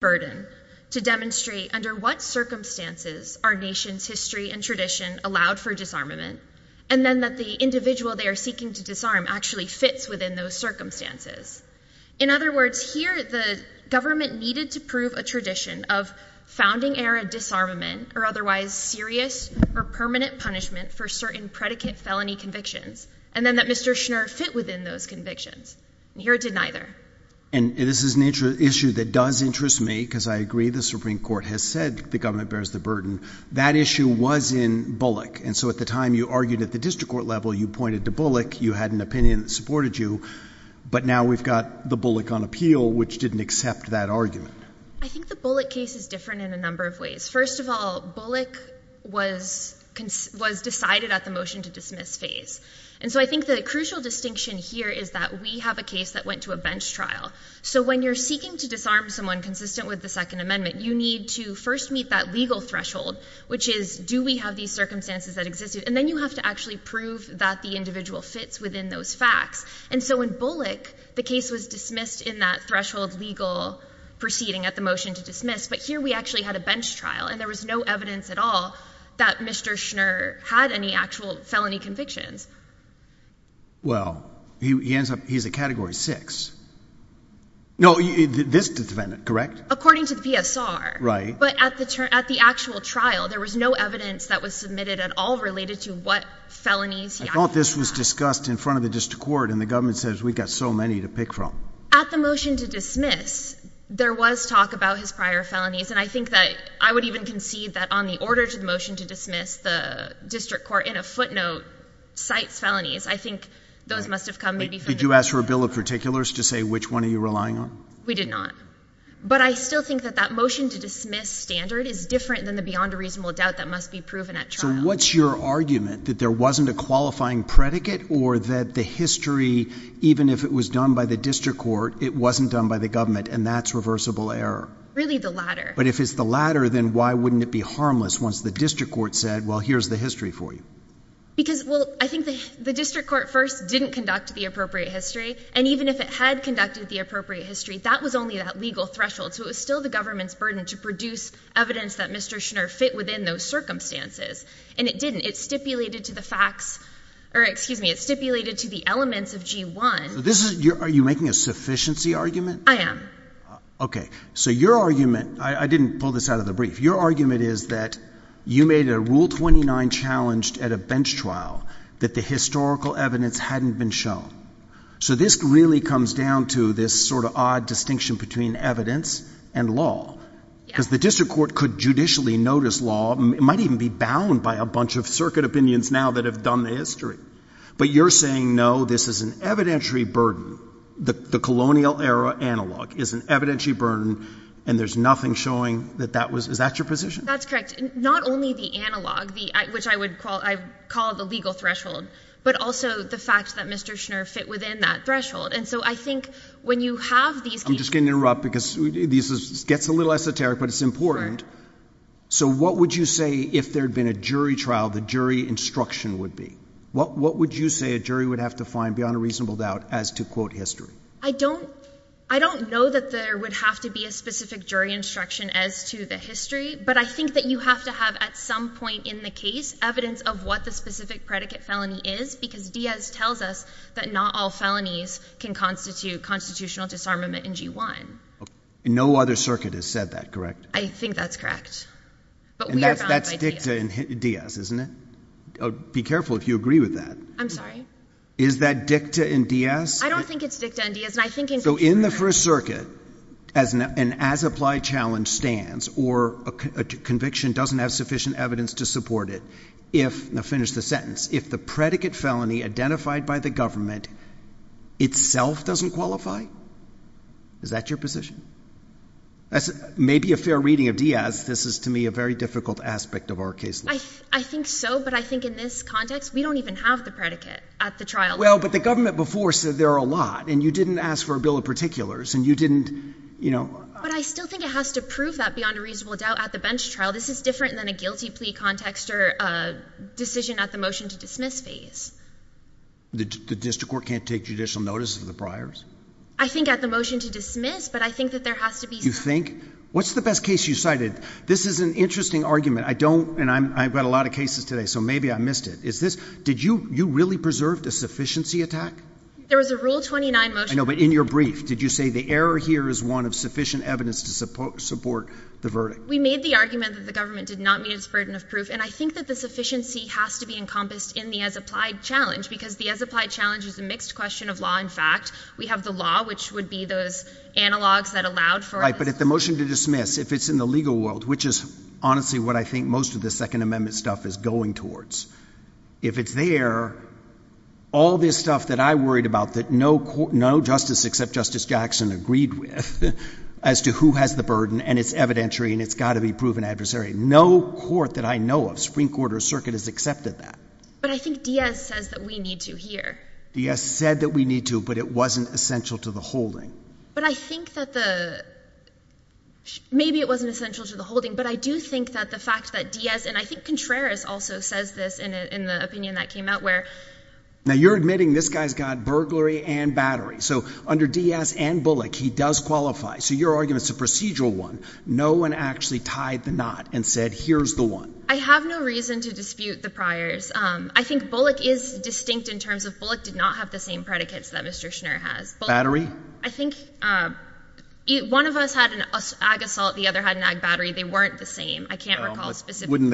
burden to demonstrate under what circumstances our nation's history and tradition allowed for disarmament, and then that the individual they are seeking to disarm actually fits within those circumstances. In other words, here the government needed to prove a tradition of founding-era disarmament or otherwise serious or permanent punishment for certain predicate felony convictions, and then that Mr. Schnur fit within those convictions. And here it And this is an issue that does interest me, because I agree the Supreme Court has said the government bears the burden. That issue was in Bullock, and so at the time you argued at the district court level, you pointed to Bullock, you had an opinion that supported you, but now we've got the Bullock on appeal, which didn't accept that argument. I think the Bullock case is different in a number of ways. First of all, Bullock was decided at the motion-to-dismiss phase, and so I think the crucial distinction here is that we have a case that went to a bench trial. So when you're seeking to disarm someone consistent with the Second Amendment, you need to first meet that legal threshold, which is do we have these circumstances that exist, and then you have to actually prove that the individual fits within those facts. And so in Bullock, the case was dismissed in that threshold legal proceeding at the motion-to-dismiss, but here we actually had a bench trial, and there was no evidence at all that Mr. Schnur had any actual felony convictions. Well, he ends up, he's a Category 6. No, this defendant, correct? According to the PSR. Right. But at the actual trial, there was no evidence that was submitted at all related to what felonies he had. I thought this was discussed in front of the district court, and the government says we've got so many to pick from. At the motion-to-dismiss, there was talk about his prior felonies, and I think that, I would even concede that on the order to the motion-to-dismiss, the district court, in a footnote, said that he cites felonies. I think those must have come maybe from the district court. Did you ask for a bill of particulars to say which one are you relying on? We did not. But I still think that that motion-to-dismiss standard is different than the beyond a reasonable doubt that must be proven at trial. So what's your argument, that there wasn't a qualifying predicate, or that the history, even if it was done by the district court, it wasn't done by the government, and that's reversible error? Really, the latter. But if it's the latter, then why wouldn't it be harmless once the district court said, well, here's the history for you? Because, well, I think the district court first didn't conduct the appropriate history, and even if it had conducted the appropriate history, that was only that legal threshold. So it was still the government's burden to produce evidence that Mr. Schnurr fit within those circumstances. And it didn't. It stipulated to the facts, or excuse me, it stipulated to the elements of G-1. Are you making a sufficiency argument? I am. Okay. So your argument, I didn't pull this out of the brief, your argument is that you made a Rule 29 challenge at a bench trial that the historical evidence hadn't been shown. So this really comes down to this sort of odd distinction between evidence and law. Yes. Because the district court could judicially notice law, it might even be bound by a bunch of circuit opinions now that have done the history. But you're saying, no, this is an evidentiary burden, the colonial era analog is an evidentiary burden, and there's nothing showing that that was, is that your position? That's correct. Not only the analog, which I would call the legal threshold, but also the fact that Mr. Schnurr fit within that threshold. And so I think when you have these I'm just going to interrupt because this gets a little esoteric, but it's important. Sure. So what would you say if there had been a jury trial, the jury instruction would be? What would you say a jury would have to find beyond a reasonable doubt as to, quote, history? I don't know that there would have to be a specific jury instruction as to the history, but I think that you have to have, at some point in the case, evidence of what the specific predicate felony is, because Diaz tells us that not all felonies can constitute constitutional disarmament in G1. No other circuit has said that, correct? I think that's correct. But we are bound by Diaz. And that's dicta in Diaz, isn't it? Be careful if you agree with that. I'm sorry? Is that dicta in Diaz? I don't think it's dicta in Diaz, and I think in G1. So in the First Circuit, as an as-applied challenge stands, or a conviction doesn't have sufficient evidence to support it, if, now finish the sentence, if the predicate felony identified by the government itself doesn't qualify, is that your position? That's maybe a fair reading of Diaz. This is, to me, a very difficult aspect of our case. I think so, but I think in this context, we don't even have the predicate at the trial. Well, but the government before said there are a lot, and you didn't ask for a bill of particulars, and you didn't, you know... But I still think it has to prove that beyond a reasonable doubt at the bench trial. This is different than a guilty plea context or a decision at the motion to dismiss phase. The district court can't take judicial notice of the priors? I think at the motion to dismiss, but I think that there has to be... You think? What's the best case you've cited? This is an interesting argument. I don't, and I've got a lot of cases today, so maybe I missed it. Did you really preserve a sufficiency attack? There was a Rule 29 motion... I know, but in your brief, did you say the error here is one of sufficient evidence to support the verdict? We made the argument that the government did not meet its burden of proof, and I think that the sufficiency has to be encompassed in the as-applied challenge, because the as-applied challenge is a mixed question of law and fact. We have the law, which would be those analogs that allowed for us... Right, but at the motion to dismiss, if it's in the legal world, which is honestly what I think most of the Second Amendment stuff is going towards, if it's there, all this stuff that I worried about that no justice except Justice Jackson agreed with as to who has the burden, and it's evidentiary, and it's got to be proven adversary, no court that I know of, Supreme Court or circuit, has accepted that. But I think Diaz says that we need to here. Diaz said that we need to, but it wasn't essential to the holding. But I think that the... maybe it wasn't essential to the holding, but I do think that the fact that Diaz, and I think Contreras also says this in the opinion that came out where... Now, you're admitting this guy's got burglary and battery. So under Diaz and Bullock, he does qualify. So your argument's a procedural one. No one actually tied the knot and said, here's the one. I have no reason to dispute the priors. I think Bullock is distinct in terms of Bullock did not have the same predicates that Mr. Schneer has. Battery? I think one of us had an ag assault, the other had an ag battery. They weren't the same. I can't recall specifically. Wouldn't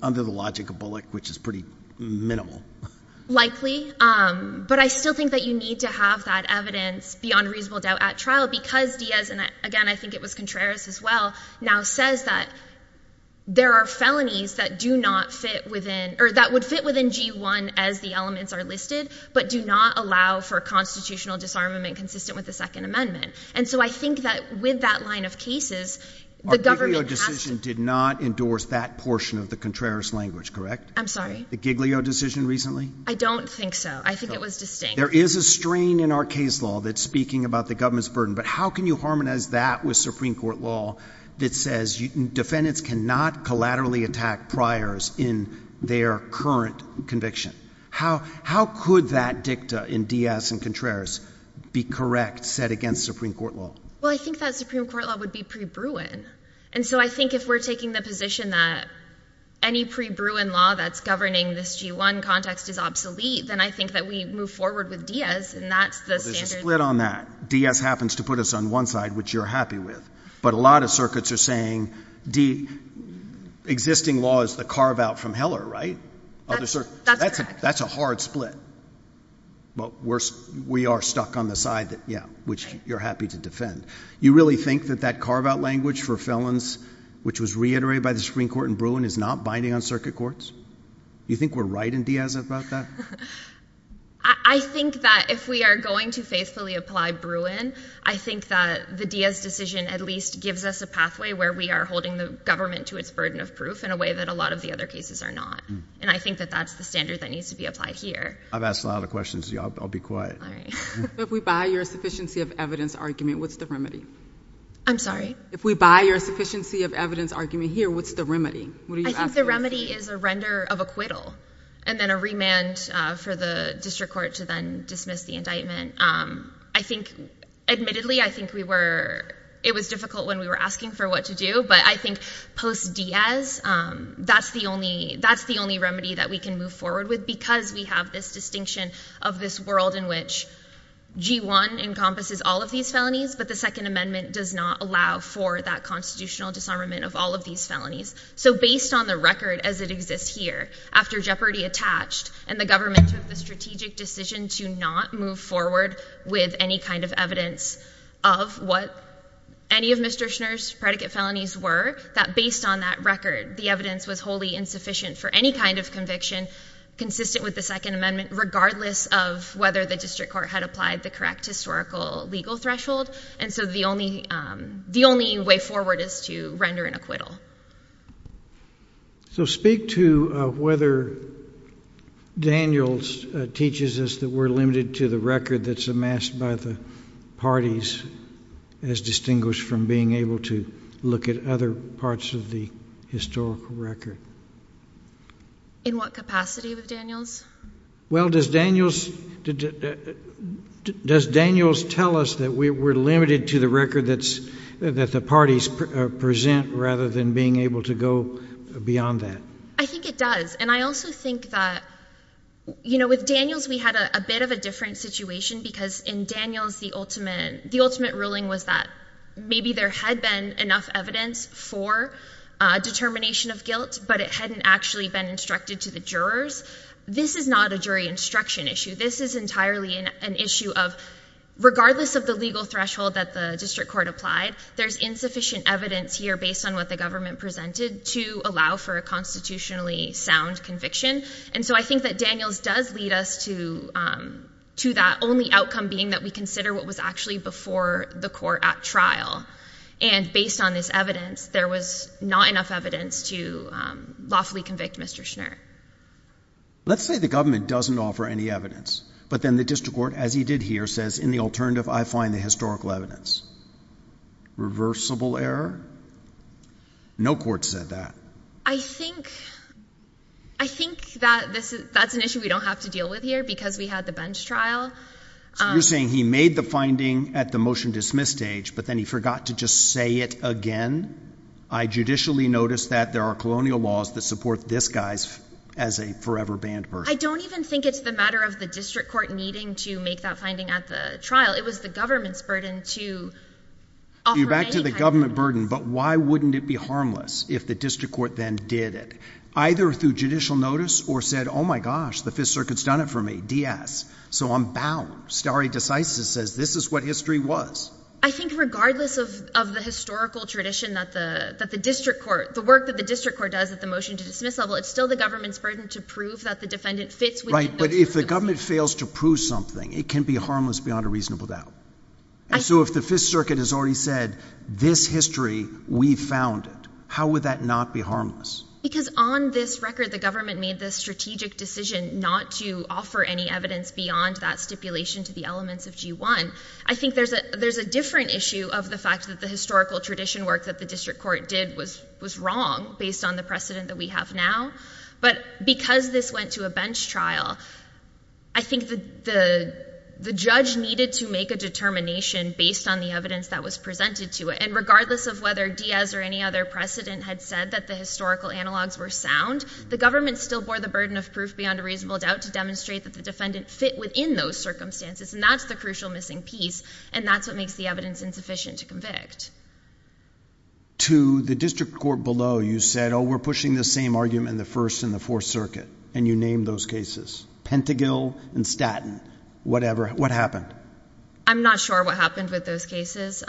they... under the logic of Bullock, which is pretty minimal. Likely. But I still think that you need to have that evidence beyond reasonable doubt at trial because Diaz, and again, I think it was Contreras as well, now says that there are felonies that do not fit within... or that would fit within G1 as the elements are listed, but do not allow for constitutional disarmament consistent with the Second Amendment. And so I think that with that line of cases, the government has to... Our Giglio decision did not endorse that portion of the Contreras language, correct? I'm sorry? The Giglio decision recently? I don't think so. I think it was distinct. There is a strain in our case law that's speaking about the government's burden, but how can you harmonize that with Supreme Court law that says defendants cannot collaterally attack priors in their current conviction? How could that dicta in Diaz and Contreras be correct, set against Supreme Court law? Well, I think that Supreme Court law would be pre-Bruin. And so I think if we're taking the position that any pre-Bruin law that's governing this G1 context is obsolete, then I think that we move forward with Diaz, and that's the standard... Well, there's a split on that. Diaz happens to put us on one side, which you're happy with. But a lot of circuits are saying existing law is the carve-out from Heller, right? That's correct. That's a hard split. But we are stuck on the side, which you're happy to defend. You really think that that carve-out language for felons, which was reiterated by the Supreme Court in Bruin, is not binding on circuit courts? Do you think we're right in Diaz about that? I think that if we are going to faithfully apply Bruin, I think that the Diaz decision at least gives us a pathway where we are holding the government to its burden of proof in a way that a lot of the other cases are not. And I think that that's the standard that needs to be applied here. I've asked a lot of questions of you. I'll be quiet. All right. If we buy your sufficiency of evidence argument, what's the remedy? I'm sorry? If we buy your sufficiency of evidence argument here, what's the remedy? I think the remedy is a render of acquittal and then a remand for the district court to then dismiss the indictment. Admittedly, I think it was difficult when we were asking for what to do, but I think post-Diaz, that's the only remedy that we can move forward with because we have this distinction of this world in which G-1 encompasses all of these felonies, but the Second Amendment does not allow for that constitutional disarmament of all of these felonies. So based on the record as it exists here, after jeopardy attached and the government took the strategic decision to not move forward with any kind of evidence of what any of Mr. Schneer's predicate felonies were, that based on that record, the evidence was wholly insufficient for any kind of conviction consistent with the Second Amendment, regardless of whether the district court had applied the correct historical legal threshold. And so the only way forward is to render an acquittal. So speak to whether Daniels teaches us that we're limited to the record that's amassed by the parties as distinguished from being able to look at other parts of the historical record. In what capacity with Daniels? Well, does Daniels tell us that we're limited to the record that the parties present rather than being able to go beyond that? I think it does, and I also think that, you know, with Daniels we had a bit of a different situation because in Daniels the ultimate ruling was that maybe there had been enough evidence for determination of guilt, but it hadn't actually been instructed to the jurors. This is not a jury instruction issue. This is entirely an issue of regardless of the legal threshold that the district court applied, there's insufficient evidence here based on what the government presented to allow for a constitutionally sound conviction. And so I think that Daniels does lead us to that, only outcome being that we consider what was actually before the court at trial. And based on this evidence, there was not enough evidence to lawfully convict Mr. Schnert. Let's say the government doesn't offer any evidence, but then the district court, as he did here, says, in the alternative I find the historical evidence. Reversible error? No court said that. I think that's an issue we don't have to deal with here because we had the bench trial. So you're saying he made the finding at the motion dismiss stage, but then he forgot to just say it again? I judicially noticed that there are colonial laws that support this guy as a forever banned person. I don't even think it's the matter of the district court needing to make that finding at the trial. It was the government's burden to offer any kind of evidence. You're back to the government burden, but why wouldn't it be harmless if the district court then did it? Either through judicial notice or said, oh my gosh, the Fifth Circuit's done it for me, D.S., so I'm bound. Stare decisis says this is what history was. I think regardless of the historical tradition that the district court, the work that the district court does at the motion to dismiss level, it's still the government's burden to prove that the defendant fits within those rules. Right, but if the government fails to prove something, it can be harmless beyond a reasonable doubt. So if the Fifth Circuit has already said, this history, we found it, how would that not be harmless? Because on this record, the government made this strategic decision not to offer any evidence beyond that stipulation to the elements of G1. I think there's a different issue of the fact that the historical tradition work that the district court did was wrong based on the precedent that we have now, but because this went to a bench trial, I think the judge needed to make a determination based on the evidence that was presented to it. And regardless of whether D.S. or any other precedent had said that the historical analogs were sound, the government still bore the burden of proof beyond a reasonable doubt to demonstrate that the defendant fit within those circumstances, and that's the crucial missing piece, and that's what makes the evidence insufficient to convict. To the district court below, you said, oh, we're pushing the same argument in the First and the Fourth Circuit, and you named those cases, Pentagil and Statton, whatever. What happened? I'm not sure what happened with those cases.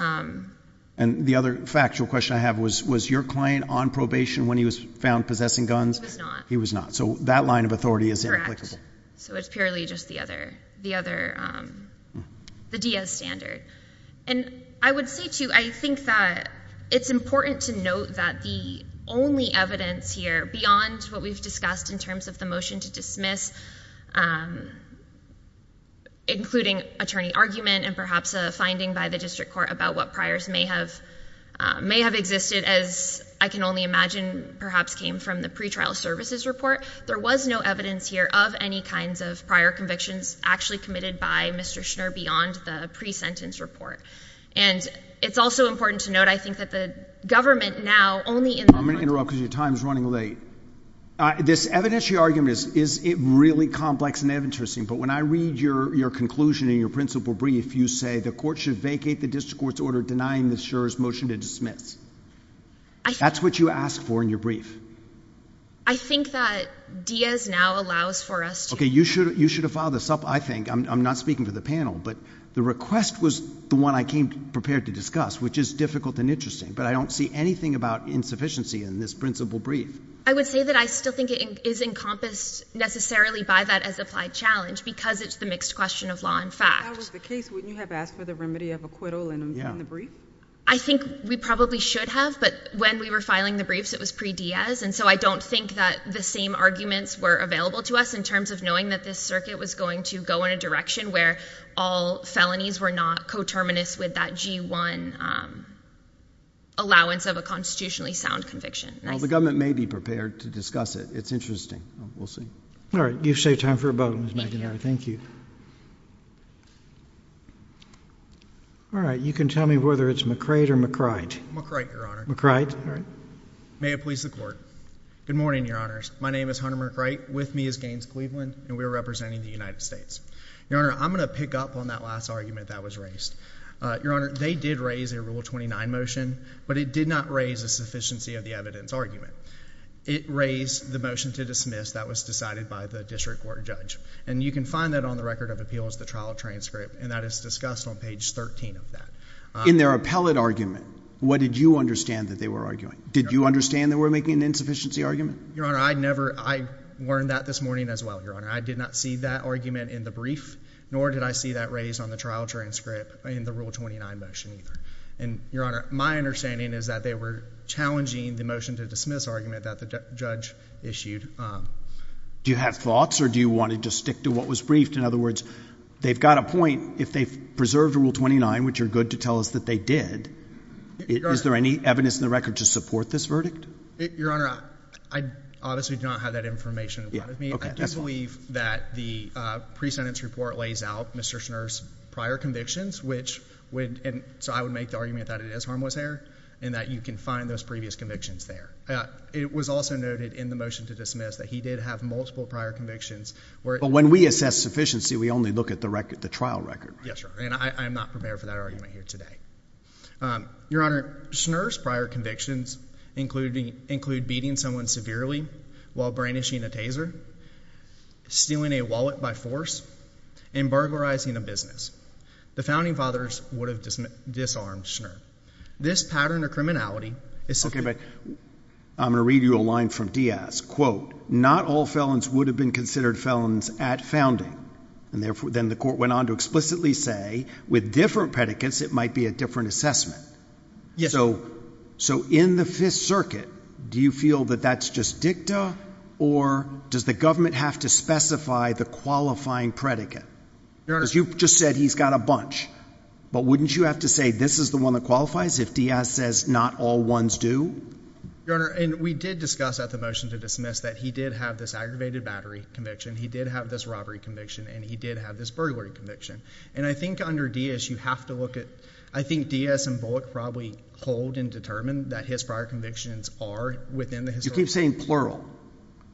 And the other factual question I have was, was your client on probation when he was found possessing guns? He was not. He was not, so that line of authority is inapplicable. Correct. So it's purely just the other, the other, the D.S. standard. And I would say, too, I think that it's important to note that the only evidence here, beyond what we've discussed in terms of the motion to dismiss, including attorney argument and perhaps a finding by the district court about what priors may have existed, as I can only imagine perhaps came from the pretrial services report, there was no evidence here of any kinds of prior convictions actually committed by Mr. Schnur beyond the pre-sentence report. And it's also important to note, I think, that the government now only in the current... This evidentiary argument is really complex and interesting, but when I read your conclusion in your principal brief, you say the court should vacate the district court's order denying the Schur's motion to dismiss. That's what you asked for in your brief. I think that D.S. now allows for us to... Okay, you should have filed this up, I think. I'm not speaking for the panel, but the request was the one I came prepared to discuss, which is difficult and interesting, but I don't see anything about insufficiency in this principal brief. I would say that I still think it is encompassed necessarily by that as applied challenge because it's the mixed question of law and fact. If that was the case, wouldn't you have asked for the remedy of acquittal in the brief? I think we probably should have, but when we were filing the briefs, it was pre-D.S., and so I don't think that the same arguments were available to us in terms of knowing that this circuit was going to go in a direction where all felonies were not coterminous with that G-1 allowance of a constitutionally sound conviction. Well, the government may be prepared to discuss it. It's interesting. We'll see. All right, you've saved time for a vote, Ms. McInerney. Thank you. All right, you can tell me whether it's McRite or McRite. McRite, Your Honor. McRite. May it please the Court. Good morning, Your Honors. My name is Hunter McRite. With me is Gaines Cleveland, and we are representing the United States. Your Honor, I'm going to pick up on that last argument that was raised. Your Honor, they did raise a Rule 29 motion, but it did not raise a sufficiency of the evidence argument. It raised the motion to dismiss that was decided by the district court judge, and you can find that on the Record of Appeals, the trial transcript, and that is discussed on page 13 of that. In their appellate argument, what did you understand that they were arguing? Did you understand that we're making an insufficiency argument? Your Honor, I learned that this morning as well, Your Honor. I did not see that argument in the brief, nor did I see that raised on the trial transcript in the Rule 29 motion either. Your Honor, my understanding is that they were challenging the motion to dismiss argument that the judge issued. Do you have thoughts, or do you want to just stick to what was briefed? In other words, they've got a point. If they've preserved Rule 29, which you're good to tell us that they did, is there any evidence in the record to support this verdict? Your Honor, I obviously do not have that information in front of me. I do believe that the pre-sentence report lays out Mr. Schnurr's prior convictions, so I would make the argument that it is harmless there and that you can find those previous convictions there. It was also noted in the motion to dismiss that he did have multiple prior convictions. But when we assess sufficiency, we only look at the trial record, right? Yes, Your Honor, and I'm not prepared for that argument here today. Your Honor, Schnurr's prior convictions include beating someone severely while brandishing a taser, stealing a wallet by force, and burglarizing a business. The founding fathers would have disarmed Schnurr. This pattern of criminality is sufficient. Okay, but I'm going to read you a line from Diaz. Quote, not all felons would have been considered felons at founding. Then the court went on to explicitly say with different predicates it might be a different assessment. Yes. So in the Fifth Circuit, do you feel that that's just dicta or does the government have to specify the qualifying predicate? Because you just said he's got a bunch. But wouldn't you have to say this is the one that qualifies if Diaz says not all ones do? Your Honor, we did discuss at the motion to dismiss that he did have this aggravated battery conviction, he did have this robbery conviction, and he did have this burglary conviction. And I think under Diaz you have to look at, I think Diaz and Bullock probably hold and determine that his prior convictions are within the history. You keep saying plural.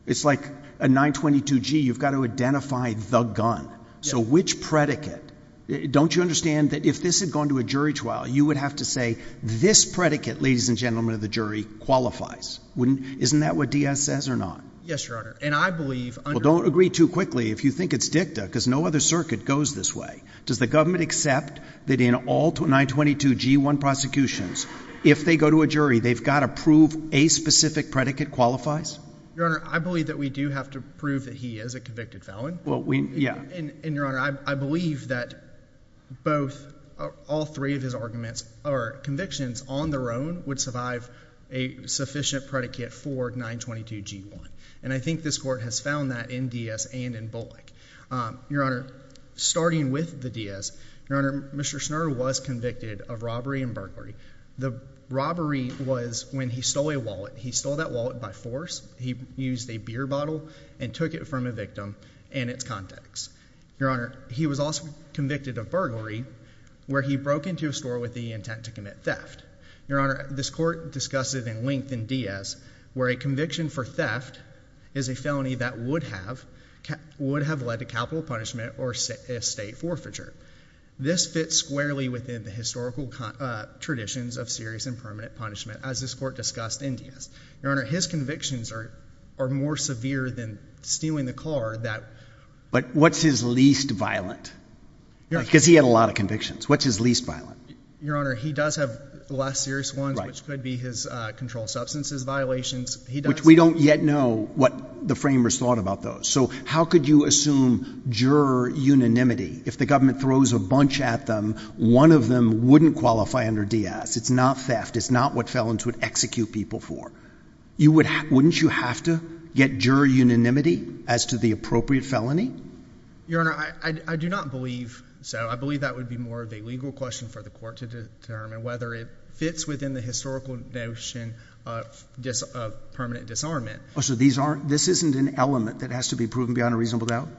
It's like a 922G. You've got to identify the gun. So which predicate? Don't you understand that if this had gone to a jury trial, you would have to say this predicate, ladies and gentlemen of the jury, qualifies. Isn't that what Diaz says or not? Yes, Your Honor, and I believe under. Well, don't agree too quickly if you think it's dicta because no other circuit goes this way. Does the government accept that in all 922G1 prosecutions, if they go to a jury they've got to prove a specific predicate qualifies? Your Honor, I believe that we do have to prove that he is a convicted felon. Well, we, yeah. And, Your Honor, I believe that both, all three of his arguments, or convictions on their own would survive a sufficient predicate for 922G1. And I think this court has found that in Diaz and in Bullock. Your Honor, starting with the Diaz, Your Honor, Mr. Snerdl was convicted of robbery and burglary. The robbery was when he stole a wallet. He stole that wallet by force. He used a beer bottle and took it from a victim in its context. Your Honor, he was also convicted of burglary where he broke into a store with the intent to commit theft. Your Honor, this court discussed it in length in Diaz, where a conviction for theft is a felony that would have led to capital punishment or estate forfeiture. This fits squarely within the historical traditions of serious and permanent punishment, as this court discussed in Diaz. Your Honor, his convictions are more severe than stealing the car. But what's his least violent? Because he had a lot of convictions. What's his least violent? Your Honor, he does have less serious ones, which could be his controlled substances violations. Which we don't yet know what the framers thought about those. So how could you assume juror unanimity? If the government throws a bunch at them, one of them wouldn't qualify under Diaz. It's not theft. It's not what felons would execute people for. Wouldn't you have to get juror unanimity as to the appropriate felony? Your Honor, I do not believe so. I believe that would be more of a legal question for the court to determine whether it fits within the historical notion of permanent disarmament. So this isn't an element that has to be proven beyond a reasonable doubt?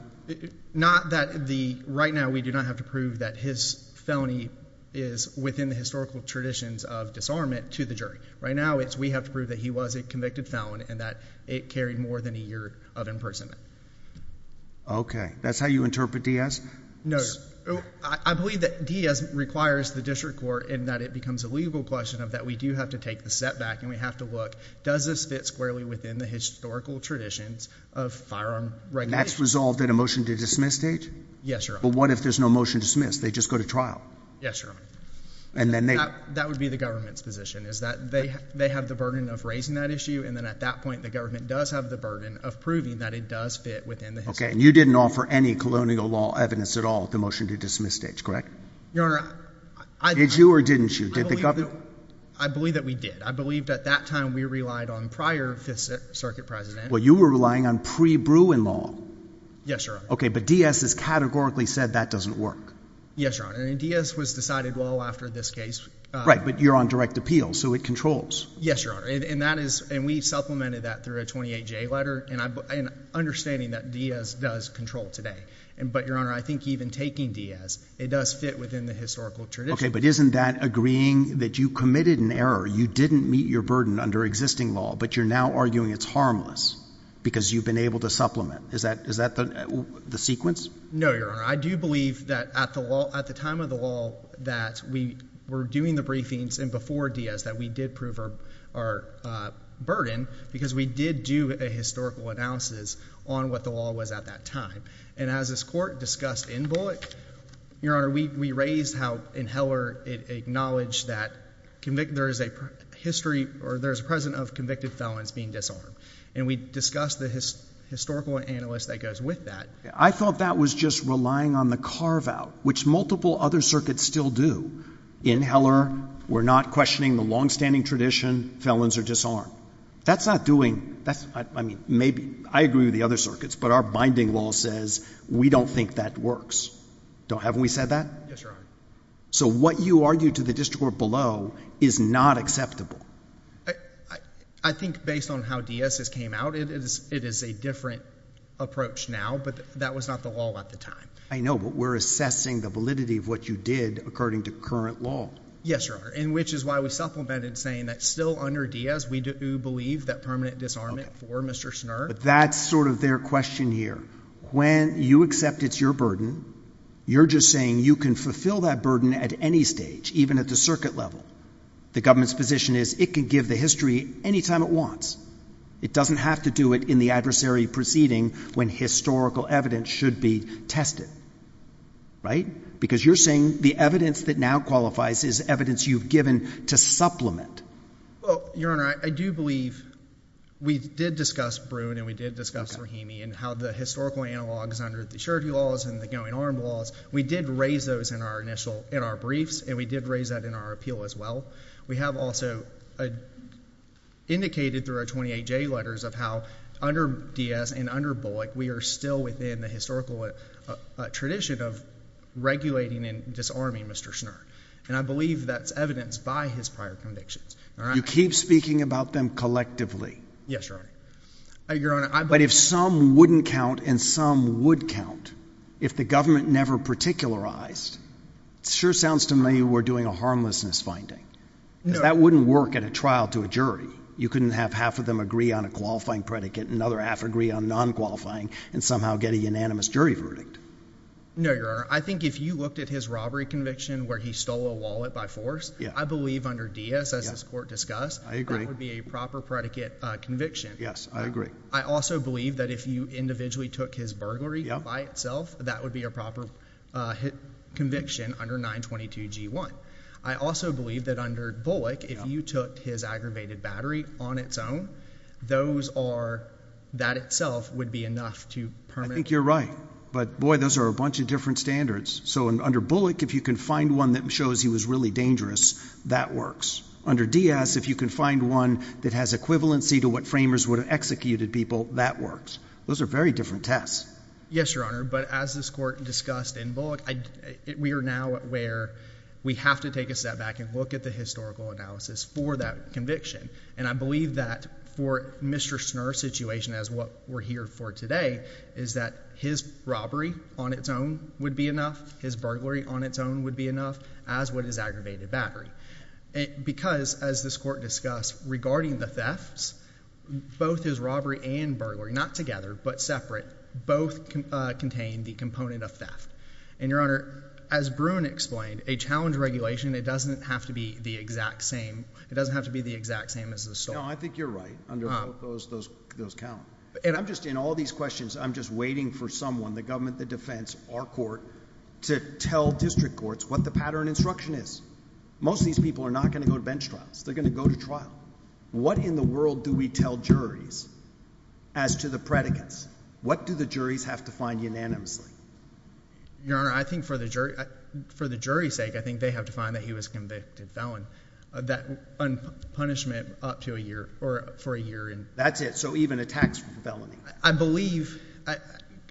Not that the right now we do not have to prove that his felony is within the historical traditions of disarmament to the jury. Right now we have to prove that he was a convicted felon and that it carried more than a year of imprisonment. Okay. That's how you interpret Diaz? No. I believe that Diaz requires the district court in that it becomes a legal question of that we do have to take the setback and we have to look, does this fit squarely within the historical traditions of firearm regulation? And that's resolved in a motion to dismiss state? Yes, Your Honor. But what if there's no motion to dismiss? They just go to trial? Yes, Your Honor. And then they— That would be the government's position is that they have the burden of raising that issue and then at that point the government does have the burden of proving that it does fit within the— Okay. And you didn't offer any colonial law evidence at all at the motion to dismiss stage, correct? Your Honor, I— Did you or didn't you? Did the government— I believe that we did. I believe that at that time we relied on prior Fifth Circuit presidents. Well, you were relying on pre-Bruin law. Yes, Your Honor. Okay. But Diaz has categorically said that doesn't work. Yes, Your Honor. And Diaz was decided well after this case. Right. But you're on direct appeal, so it controls. Yes, Your Honor. And that is—and we supplemented that through a 28-J letter and understanding that Diaz does control today. But, Your Honor, I think even taking Diaz, it does fit within the historical tradition. Okay. But isn't that agreeing that you committed an error? You didn't meet your burden under existing law, but you're now arguing it's harmless because you've been able to supplement. Is that the sequence? No, Your Honor. I do believe that at the time of the law that we were doing the briefings and before Diaz that we did prove our burden because we did do a historical analysis on what the law was at that time. And as this court discussed in Bullock, Your Honor, we raised how in Heller it acknowledged that there is a history or there is a precedent of convicted felons being disarmed. And we discussed the historical analysis that goes with that. I thought that was just relying on the carve-out, which multiple other circuits still do. In Heller, we're not questioning the longstanding tradition, felons are disarmed. That's not doing—I mean, maybe—I agree with the other circuits, but our binding law says we don't think that works. Haven't we said that? Yes, Your Honor. So what you argue to the district court below is not acceptable. I think based on how Diaz's came out, it is a different approach now, but that was not the law at the time. I know, but we're assessing the validity of what you did according to current law. Yes, Your Honor, and which is why we supplemented saying that still under Diaz, we do believe that permanent disarmament for Mr. Schnurr. But that's sort of their question here. When you accept it's your burden, you're just saying you can fulfill that burden at any stage, even at the circuit level. The government's position is it can give the history any time it wants. It doesn't have to do it in the adversary proceeding when historical evidence should be tested. Right? Because you're saying the evidence that now qualifies is evidence you've given to supplement. Well, Your Honor, I do believe we did discuss Bruin and we did discuss Rahimi and how the historical analogs under the surety laws and the going arm laws, we did raise those in our briefs and we did raise that in our appeal as well. We have also indicated through our 28J letters of how under Diaz and under Bullock, we are still within the historical tradition of regulating and disarming Mr. Schnurr. And I believe that's evidence by his prior convictions. You keep speaking about them collectively. Yes, Your Honor. But if some wouldn't count and some would count, if the government never particularized, it sure sounds to me we're doing a harmlessness finding because that wouldn't work at a trial to a jury. You couldn't have half of them agree on a qualifying predicate and another half agree on non-qualifying and somehow get a unanimous jury verdict. No, Your Honor. I think if you looked at his robbery conviction where he stole a wallet by force, I believe under Diaz, as this court discussed, that would be a proper predicate conviction. Yes, I agree. I also believe that if you individually took his burglary by itself, that would be a proper conviction under 922G1. I also believe that under Bullock, if you took his aggravated battery on its own, those are – that itself would be enough to – I think you're right. But, boy, those are a bunch of different standards. So under Bullock, if you can find one that shows he was really dangerous, that works. Under Diaz, if you can find one that has equivalency to what framers would have executed people, that works. Those are very different tests. Yes, Your Honor. But as this court discussed in Bullock, we are now where we have to take a step back and look at the historical analysis for that conviction. And I believe that for Mr. Snurr's situation as what we're here for today is that his robbery on its own would be enough, his burglary on its own would be enough, as would his aggravated battery. Because, as this court discussed, regarding the thefts, both his robbery and burglary, not together but separate, both contain the component of theft. And, Your Honor, as Bruin explained, a challenge regulation, it doesn't have to be the exact same. It doesn't have to be the exact same as the stolen. No, I think you're right. Under both, those count. And I'm just – in all these questions, I'm just waiting for someone, the government, the defense, our court, to tell district courts what the pattern instruction is. Most of these people are not going to go to bench trials. They're going to go to trial. What in the world do we tell juries as to the predicates? What do the juries have to find unanimously? Your Honor, I think for the jury's sake, I think they have to find that he was convicted felon. That unpunishment up to a year or for a year. That's it? So even a tax felony? I believe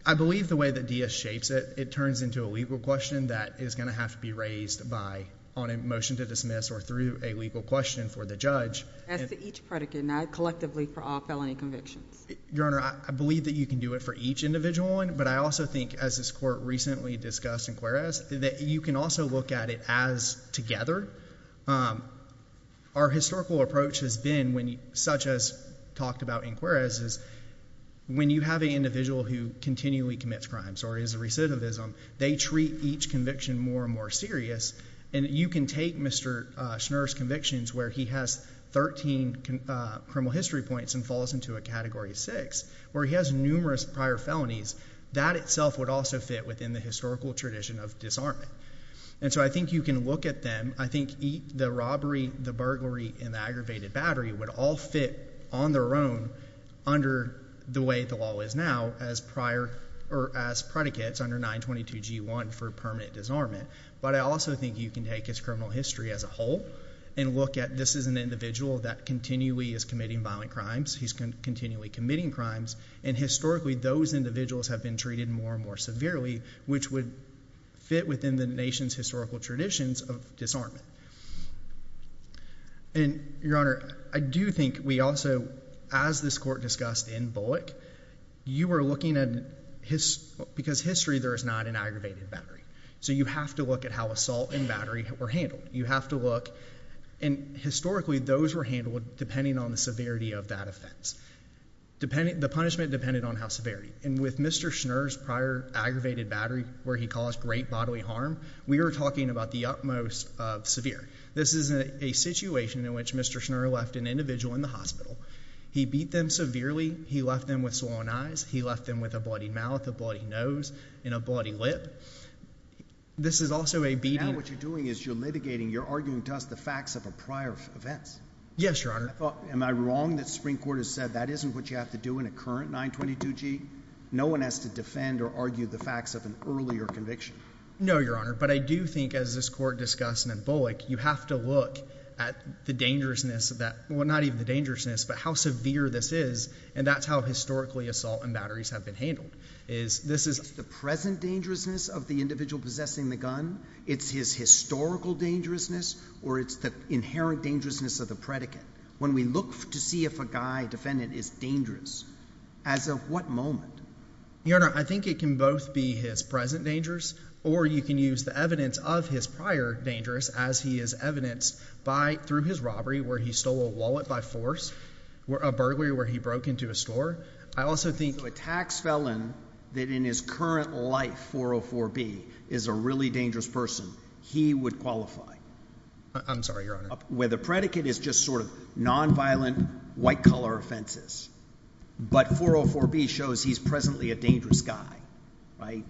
the way that DS shapes it, it turns into a legal question that is going to have to be raised by – on a motion to dismiss or through a legal question for the judge. As to each predicate, not collectively for all felony convictions. Your Honor, I believe that you can do it for each individual one, but I also think, as this court recently discussed in Juarez, that you can also look at it as together. Our historical approach has been, such as talked about in Juarez, is when you have an individual who continually commits crimes or is a recidivism, they treat each conviction more and more serious. And you can take Mr. Schnurr's convictions where he has 13 criminal history points and falls into a Category 6 where he has numerous prior felonies. That itself would also fit within the historical tradition of disarmament. And so I think you can look at them. I think the robbery, the burglary, and the aggravated battery would all fit on their own under the way the law is now as prior – or as predicates under 922G1 for permanent disarmament. But I also think you can take his criminal history as a whole and look at this as an individual that continually is committing violent crimes. He's continually committing crimes. And historically, those individuals have been treated more and more severely, which would fit within the nation's historical traditions of disarmament. And, Your Honor, I do think we also – as this court discussed in Bullock, you were looking at – because history, there is not an aggravated battery. So you have to look at how assault and battery were handled. You have to look – and historically, those were handled depending on the severity of that offense. The punishment depended on how severe. And with Mr. Schnurr's prior aggravated battery where he caused great bodily harm, we are talking about the utmost of severe. This is a situation in which Mr. Schnurr left an individual in the hospital. He beat them severely. He left them with swollen eyes. He left them with a bloody mouth, a bloody nose, and a bloody lip. This is also a beating – Now what you're doing is you're litigating. You're arguing to us the facts of a prior event. Yes, Your Honor. Am I wrong that the Supreme Court has said that isn't what you have to do in a current 922G? No one has to defend or argue the facts of an earlier conviction. No, Your Honor. But I do think, as this court discussed in Bullock, you have to look at the dangerousness of that – well, not even the dangerousness, but how severe this is. And that's how historically assault and batteries have been handled. It's the present dangerousness of the individual possessing the gun. It's his historical dangerousness or it's the inherent dangerousness of the predicate. When we look to see if a guy defendant is dangerous, as of what moment? Your Honor, I think it can both be his present dangerous or you can use the evidence of his prior dangerous as he is evidenced by – through his robbery where he stole a wallet by force, a burglary where he broke into a store. I also think – So a tax felon that in his current life, 404B, is a really dangerous person, he would qualify. I'm sorry, Your Honor. Where the predicate is just sort of nonviolent, white-collar offenses, but 404B shows he's presently a dangerous guy, right?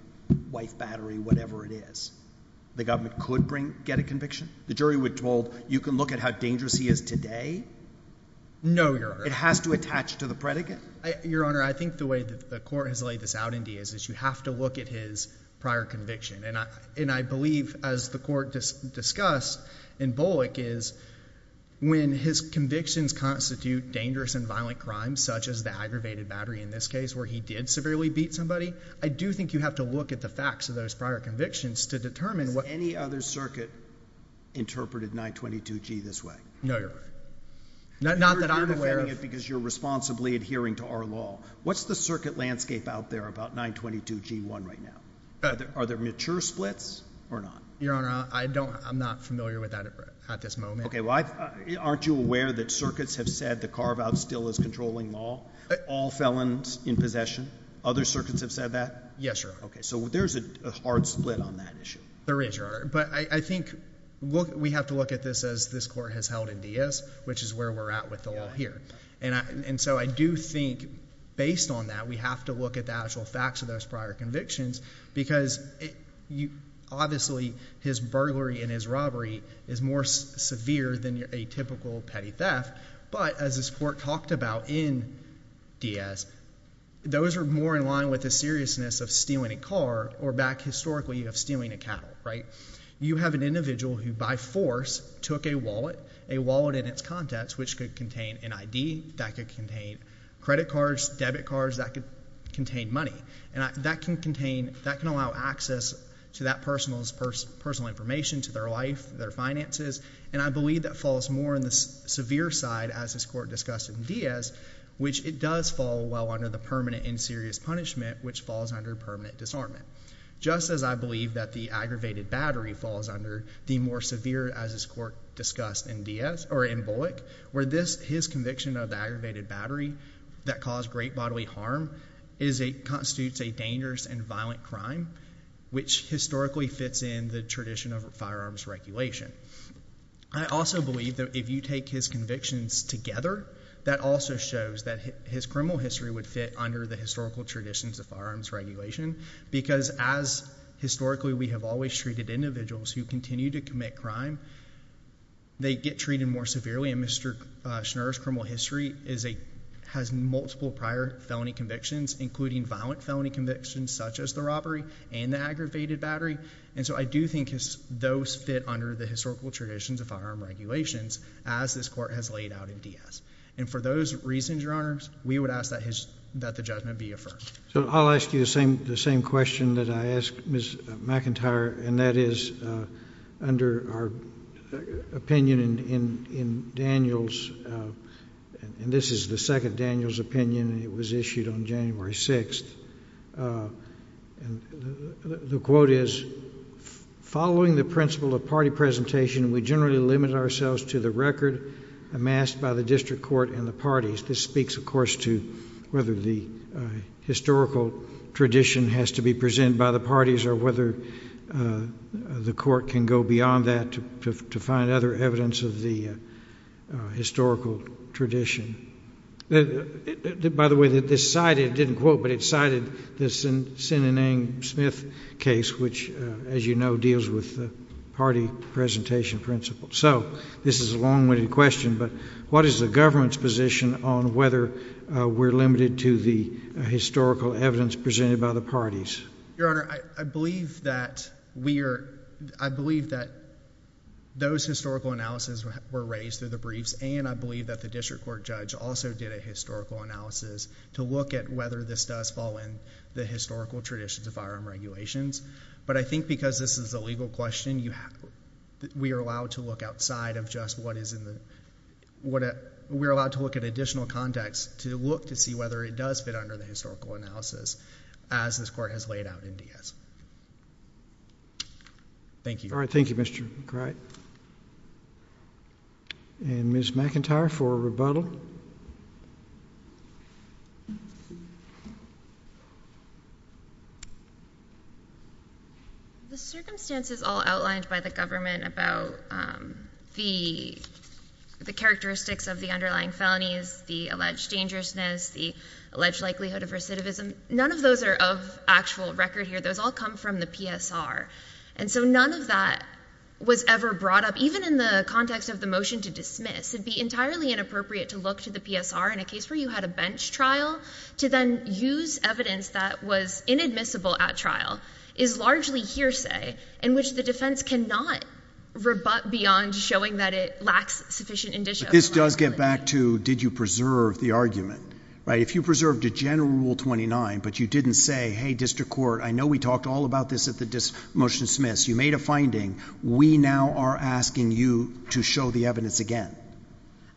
Wife, battery, whatever it is. The government could bring – get a conviction? The jury would hold you can look at how dangerous he is today? No, Your Honor. It has to attach to the predicate? Your Honor, I think the way the court has laid this out in Diaz is you have to look at his prior conviction. And I believe, as the court discussed in Bullock, is when his convictions constitute dangerous and violent crimes, such as the aggravated battery in this case where he did severely beat somebody, I do think you have to look at the facts of those prior convictions to determine what – Has any other circuit interpreted 922G this way? No, Your Honor. Not that I'm aware of. You say that because you're responsibly adhering to our law. What's the circuit landscape out there about 922G1 right now? Are there mature splits or not? Your Honor, I don't – I'm not familiar with that at this moment. Okay, well, aren't you aware that circuits have said the carve-out still is controlling law? All felons in possession. Other circuits have said that? Yes, Your Honor. Okay, so there's a hard split on that issue. There is, Your Honor. But I think we have to look at this as this court has held in Diaz, which is where we're at with the law here. And so I do think, based on that, we have to look at the actual facts of those prior convictions because obviously his burglary and his robbery is more severe than a typical petty theft. But as this court talked about in Diaz, those are more in line with the seriousness of stealing a car or back historically of stealing a cattle. You have an individual who by force took a wallet, a wallet in its contents, which could contain an ID. That could contain credit cards, debit cards. That could contain money. And that can contain – that can allow access to that person's personal information, to their life, their finances. And I believe that falls more on the severe side, as this court discussed in Diaz, which it does fall well under the permanent and serious punishment, which falls under permanent disarmament. Just as I believe that the aggravated battery falls under the more severe, as this court discussed in Diaz – or in Bullock, where this – his conviction of the aggravated battery that caused great bodily harm constitutes a dangerous and violent crime, which historically fits in the tradition of firearms regulation. I also believe that if you take his convictions together, that also shows that his criminal history would fit under the historical traditions of firearms regulation. Because as historically we have always treated individuals who continue to commit crime, they get treated more severely. And Mr. Schnur's criminal history is a – has multiple prior felony convictions, including violent felony convictions such as the robbery and the aggravated battery. And so I do think those fit under the historical traditions of firearms regulations, as this court has laid out in Diaz. And for those reasons, Your Honors, we would ask that the judgment be affirmed. So I'll ask you the same question that I asked Ms. McIntyre, and that is under our opinion in Daniel's – and this is the second Daniel's opinion, and it was issued on January 6th. And the quote is, following the principle of party presentation, we generally limit ourselves to the record amassed by the district court and the parties. This speaks, of course, to whether the historical tradition has to be presented by the parties or whether the court can go beyond that to find other evidence of the historical tradition. By the way, this cited – it didn't quote, but it cited the Sinanang Smith case, which, as you know, deals with the party presentation principle. So this is a long-winded question, but what is the government's position on whether we're limited to the historical evidence presented by the parties? Your Honor, I believe that we are – I believe that those historical analyses were raised through the briefs, and I believe that the district court judge also did a historical analysis to look at whether this does fall in the historical traditions of firearm regulations. But I think because this is a legal question, you have – we are allowed to look outside of just what is in the – we are allowed to look at additional context to look to see whether it does fit under the historical analysis as this court has laid out in DS. Thank you. All right. Thank you, Mr. McCryde. And Ms. McIntyre for rebuttal. The circumstances all outlined by the government about the characteristics of the underlying felonies, the alleged dangerousness, the alleged likelihood of recidivism, none of those are of actual record here. Those all come from the PSR. And so none of that was ever brought up. Even in the context of the motion to dismiss, it would be entirely inappropriate to look to the PSR in a case where you had a bench trial to then use evidence that was inadmissible at trial is largely hearsay in which the defense cannot rebut beyond showing that it lacks sufficient indicia of liability. But this does get back to did you preserve the argument, right? If you preserved a general Rule 29, but you didn't say, hey, district court, I know we talked all about this at the motion to dismiss. You made a finding. We now are asking you to show the evidence again.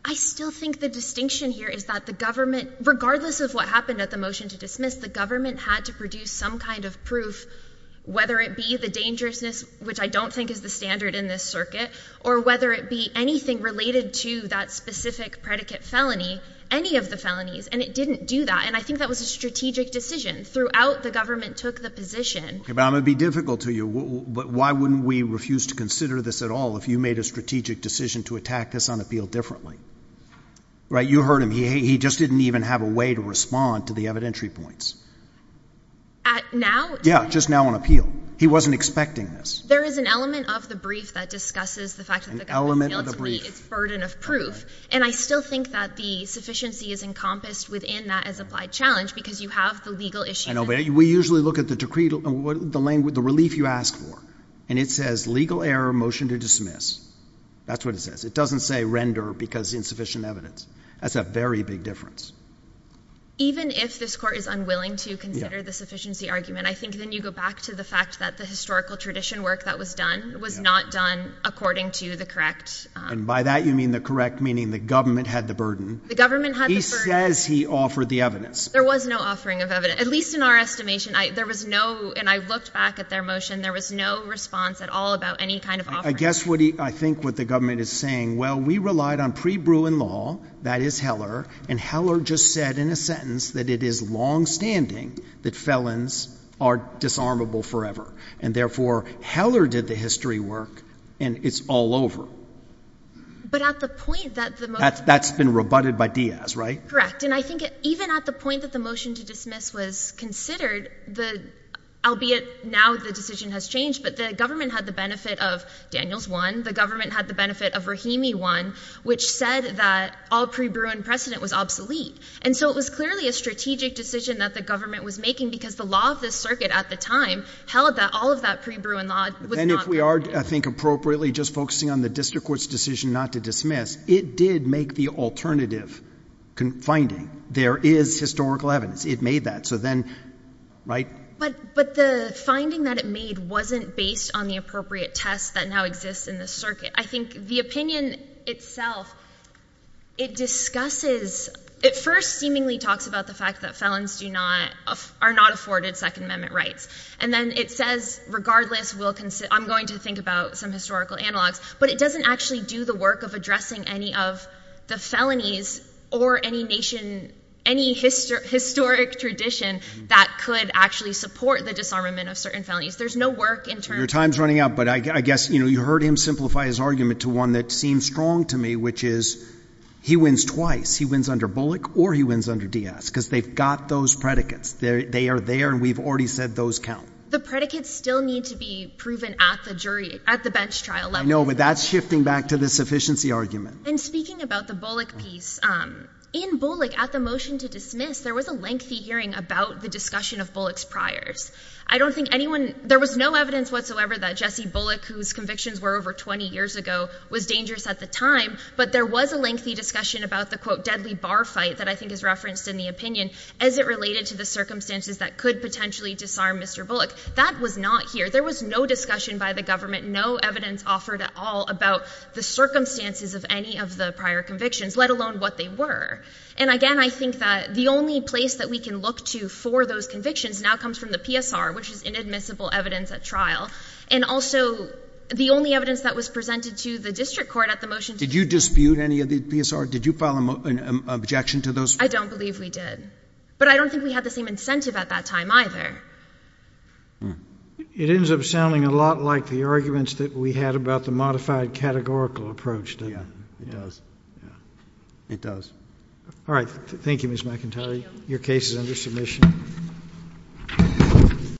I still think the distinction here is that the government, regardless of what happened at the motion to dismiss, the government had to produce some kind of proof, whether it be the dangerousness, which I don't think is the standard in this circuit, or whether it be anything related to that specific predicate felony, any of the felonies. And it didn't do that. And I think that was a strategic decision. Throughout, the government took the position. But I'm going to be difficult to you. Why wouldn't we refuse to consider this at all if you made a strategic decision to attack this on appeal differently? Right? You heard him. He just didn't even have a way to respond to the evidentiary points. Now? Yeah, just now on appeal. He wasn't expecting this. There is an element of the brief that discusses the fact that the government failed to meet its burden of proof. And I still think that the sufficiency is encompassed within that as applied challenge, because you have the legal issue. We usually look at the decree, the relief you ask for, and it says legal error, motion to dismiss. That's what it says. It doesn't say render because insufficient evidence. That's a very big difference. Even if this court is unwilling to consider the sufficiency argument, I think then you go back to the fact that the historical tradition work that was done was not done according to the correct— And by that you mean the correct meaning the government had the burden. The government had the burden. He says he offered the evidence. There was no offering of evidence, at least in our estimation. There was no—and I looked back at their motion. There was no response at all about any kind of offering. I guess what he—I think what the government is saying, well, we relied on pre-Bruin law, that is Heller, and Heller just said in a sentence that it is longstanding that felons are disarmable forever. And therefore, Heller did the history work, and it's all over. But at the point that the— That's been rebutted by Diaz, right? Correct. And I think even at the point that the motion to dismiss was considered, albeit now the decision has changed, but the government had the benefit of Daniels 1. The government had the benefit of Rahimi 1, which said that all pre-Bruin precedent was obsolete. And so it was clearly a strategic decision that the government was making because the law of this circuit at the time held that all of that pre-Bruin law was not— And if we are, I think, appropriately just focusing on the district court's decision not to dismiss, it did make the alternative finding. There is historical evidence. It made that. So then—right? But the finding that it made wasn't based on the appropriate test that now exists in this circuit. I think the opinion itself, it discusses—it first seemingly talks about the fact that felons do not—are not afforded Second Amendment rights. And then it says, regardless, we'll—I'm going to think about some historical analogs. But it doesn't actually do the work of addressing any of the felonies or any nation, any historic tradition that could actually support the disarmament of certain felonies. There's no work in terms of— Your time's running out, but I guess you heard him simplify his argument to one that seems strong to me, which is he wins twice. He wins under Bullock or he wins under Diaz because they've got those predicates. They are there, and we've already said those count. The predicates still need to be proven at the jury—at the bench trial level. I know, but that's shifting back to the sufficiency argument. And speaking about the Bullock piece, in Bullock, at the motion to dismiss, there was a lengthy hearing about the discussion of Bullock's priors. I don't think anyone—there was no evidence whatsoever that Jesse Bullock, whose convictions were over 20 years ago, was dangerous at the time. But there was a lengthy discussion about the, quote, deadly bar fight that I think is referenced in the opinion as it related to the circumstances that could potentially disarm Mr. Bullock. That was not here. There was no discussion by the government, no evidence offered at all about the circumstances of any of the prior convictions, let alone what they were. And again, I think that the only place that we can look to for those convictions now comes from the PSR, which is inadmissible evidence at trial. And also, the only evidence that was presented to the district court at the motion to dismiss— Did you dispute any of the PSR? Did you file an objection to those? I don't believe we did. But I don't think we had the same incentive at that time either. It ends up sounding a lot like the arguments that we had about the modified categorical approach, didn't it? Yeah, it does. All right. Thank you, Ms. McIntyre. Thank you. Your case is under submission.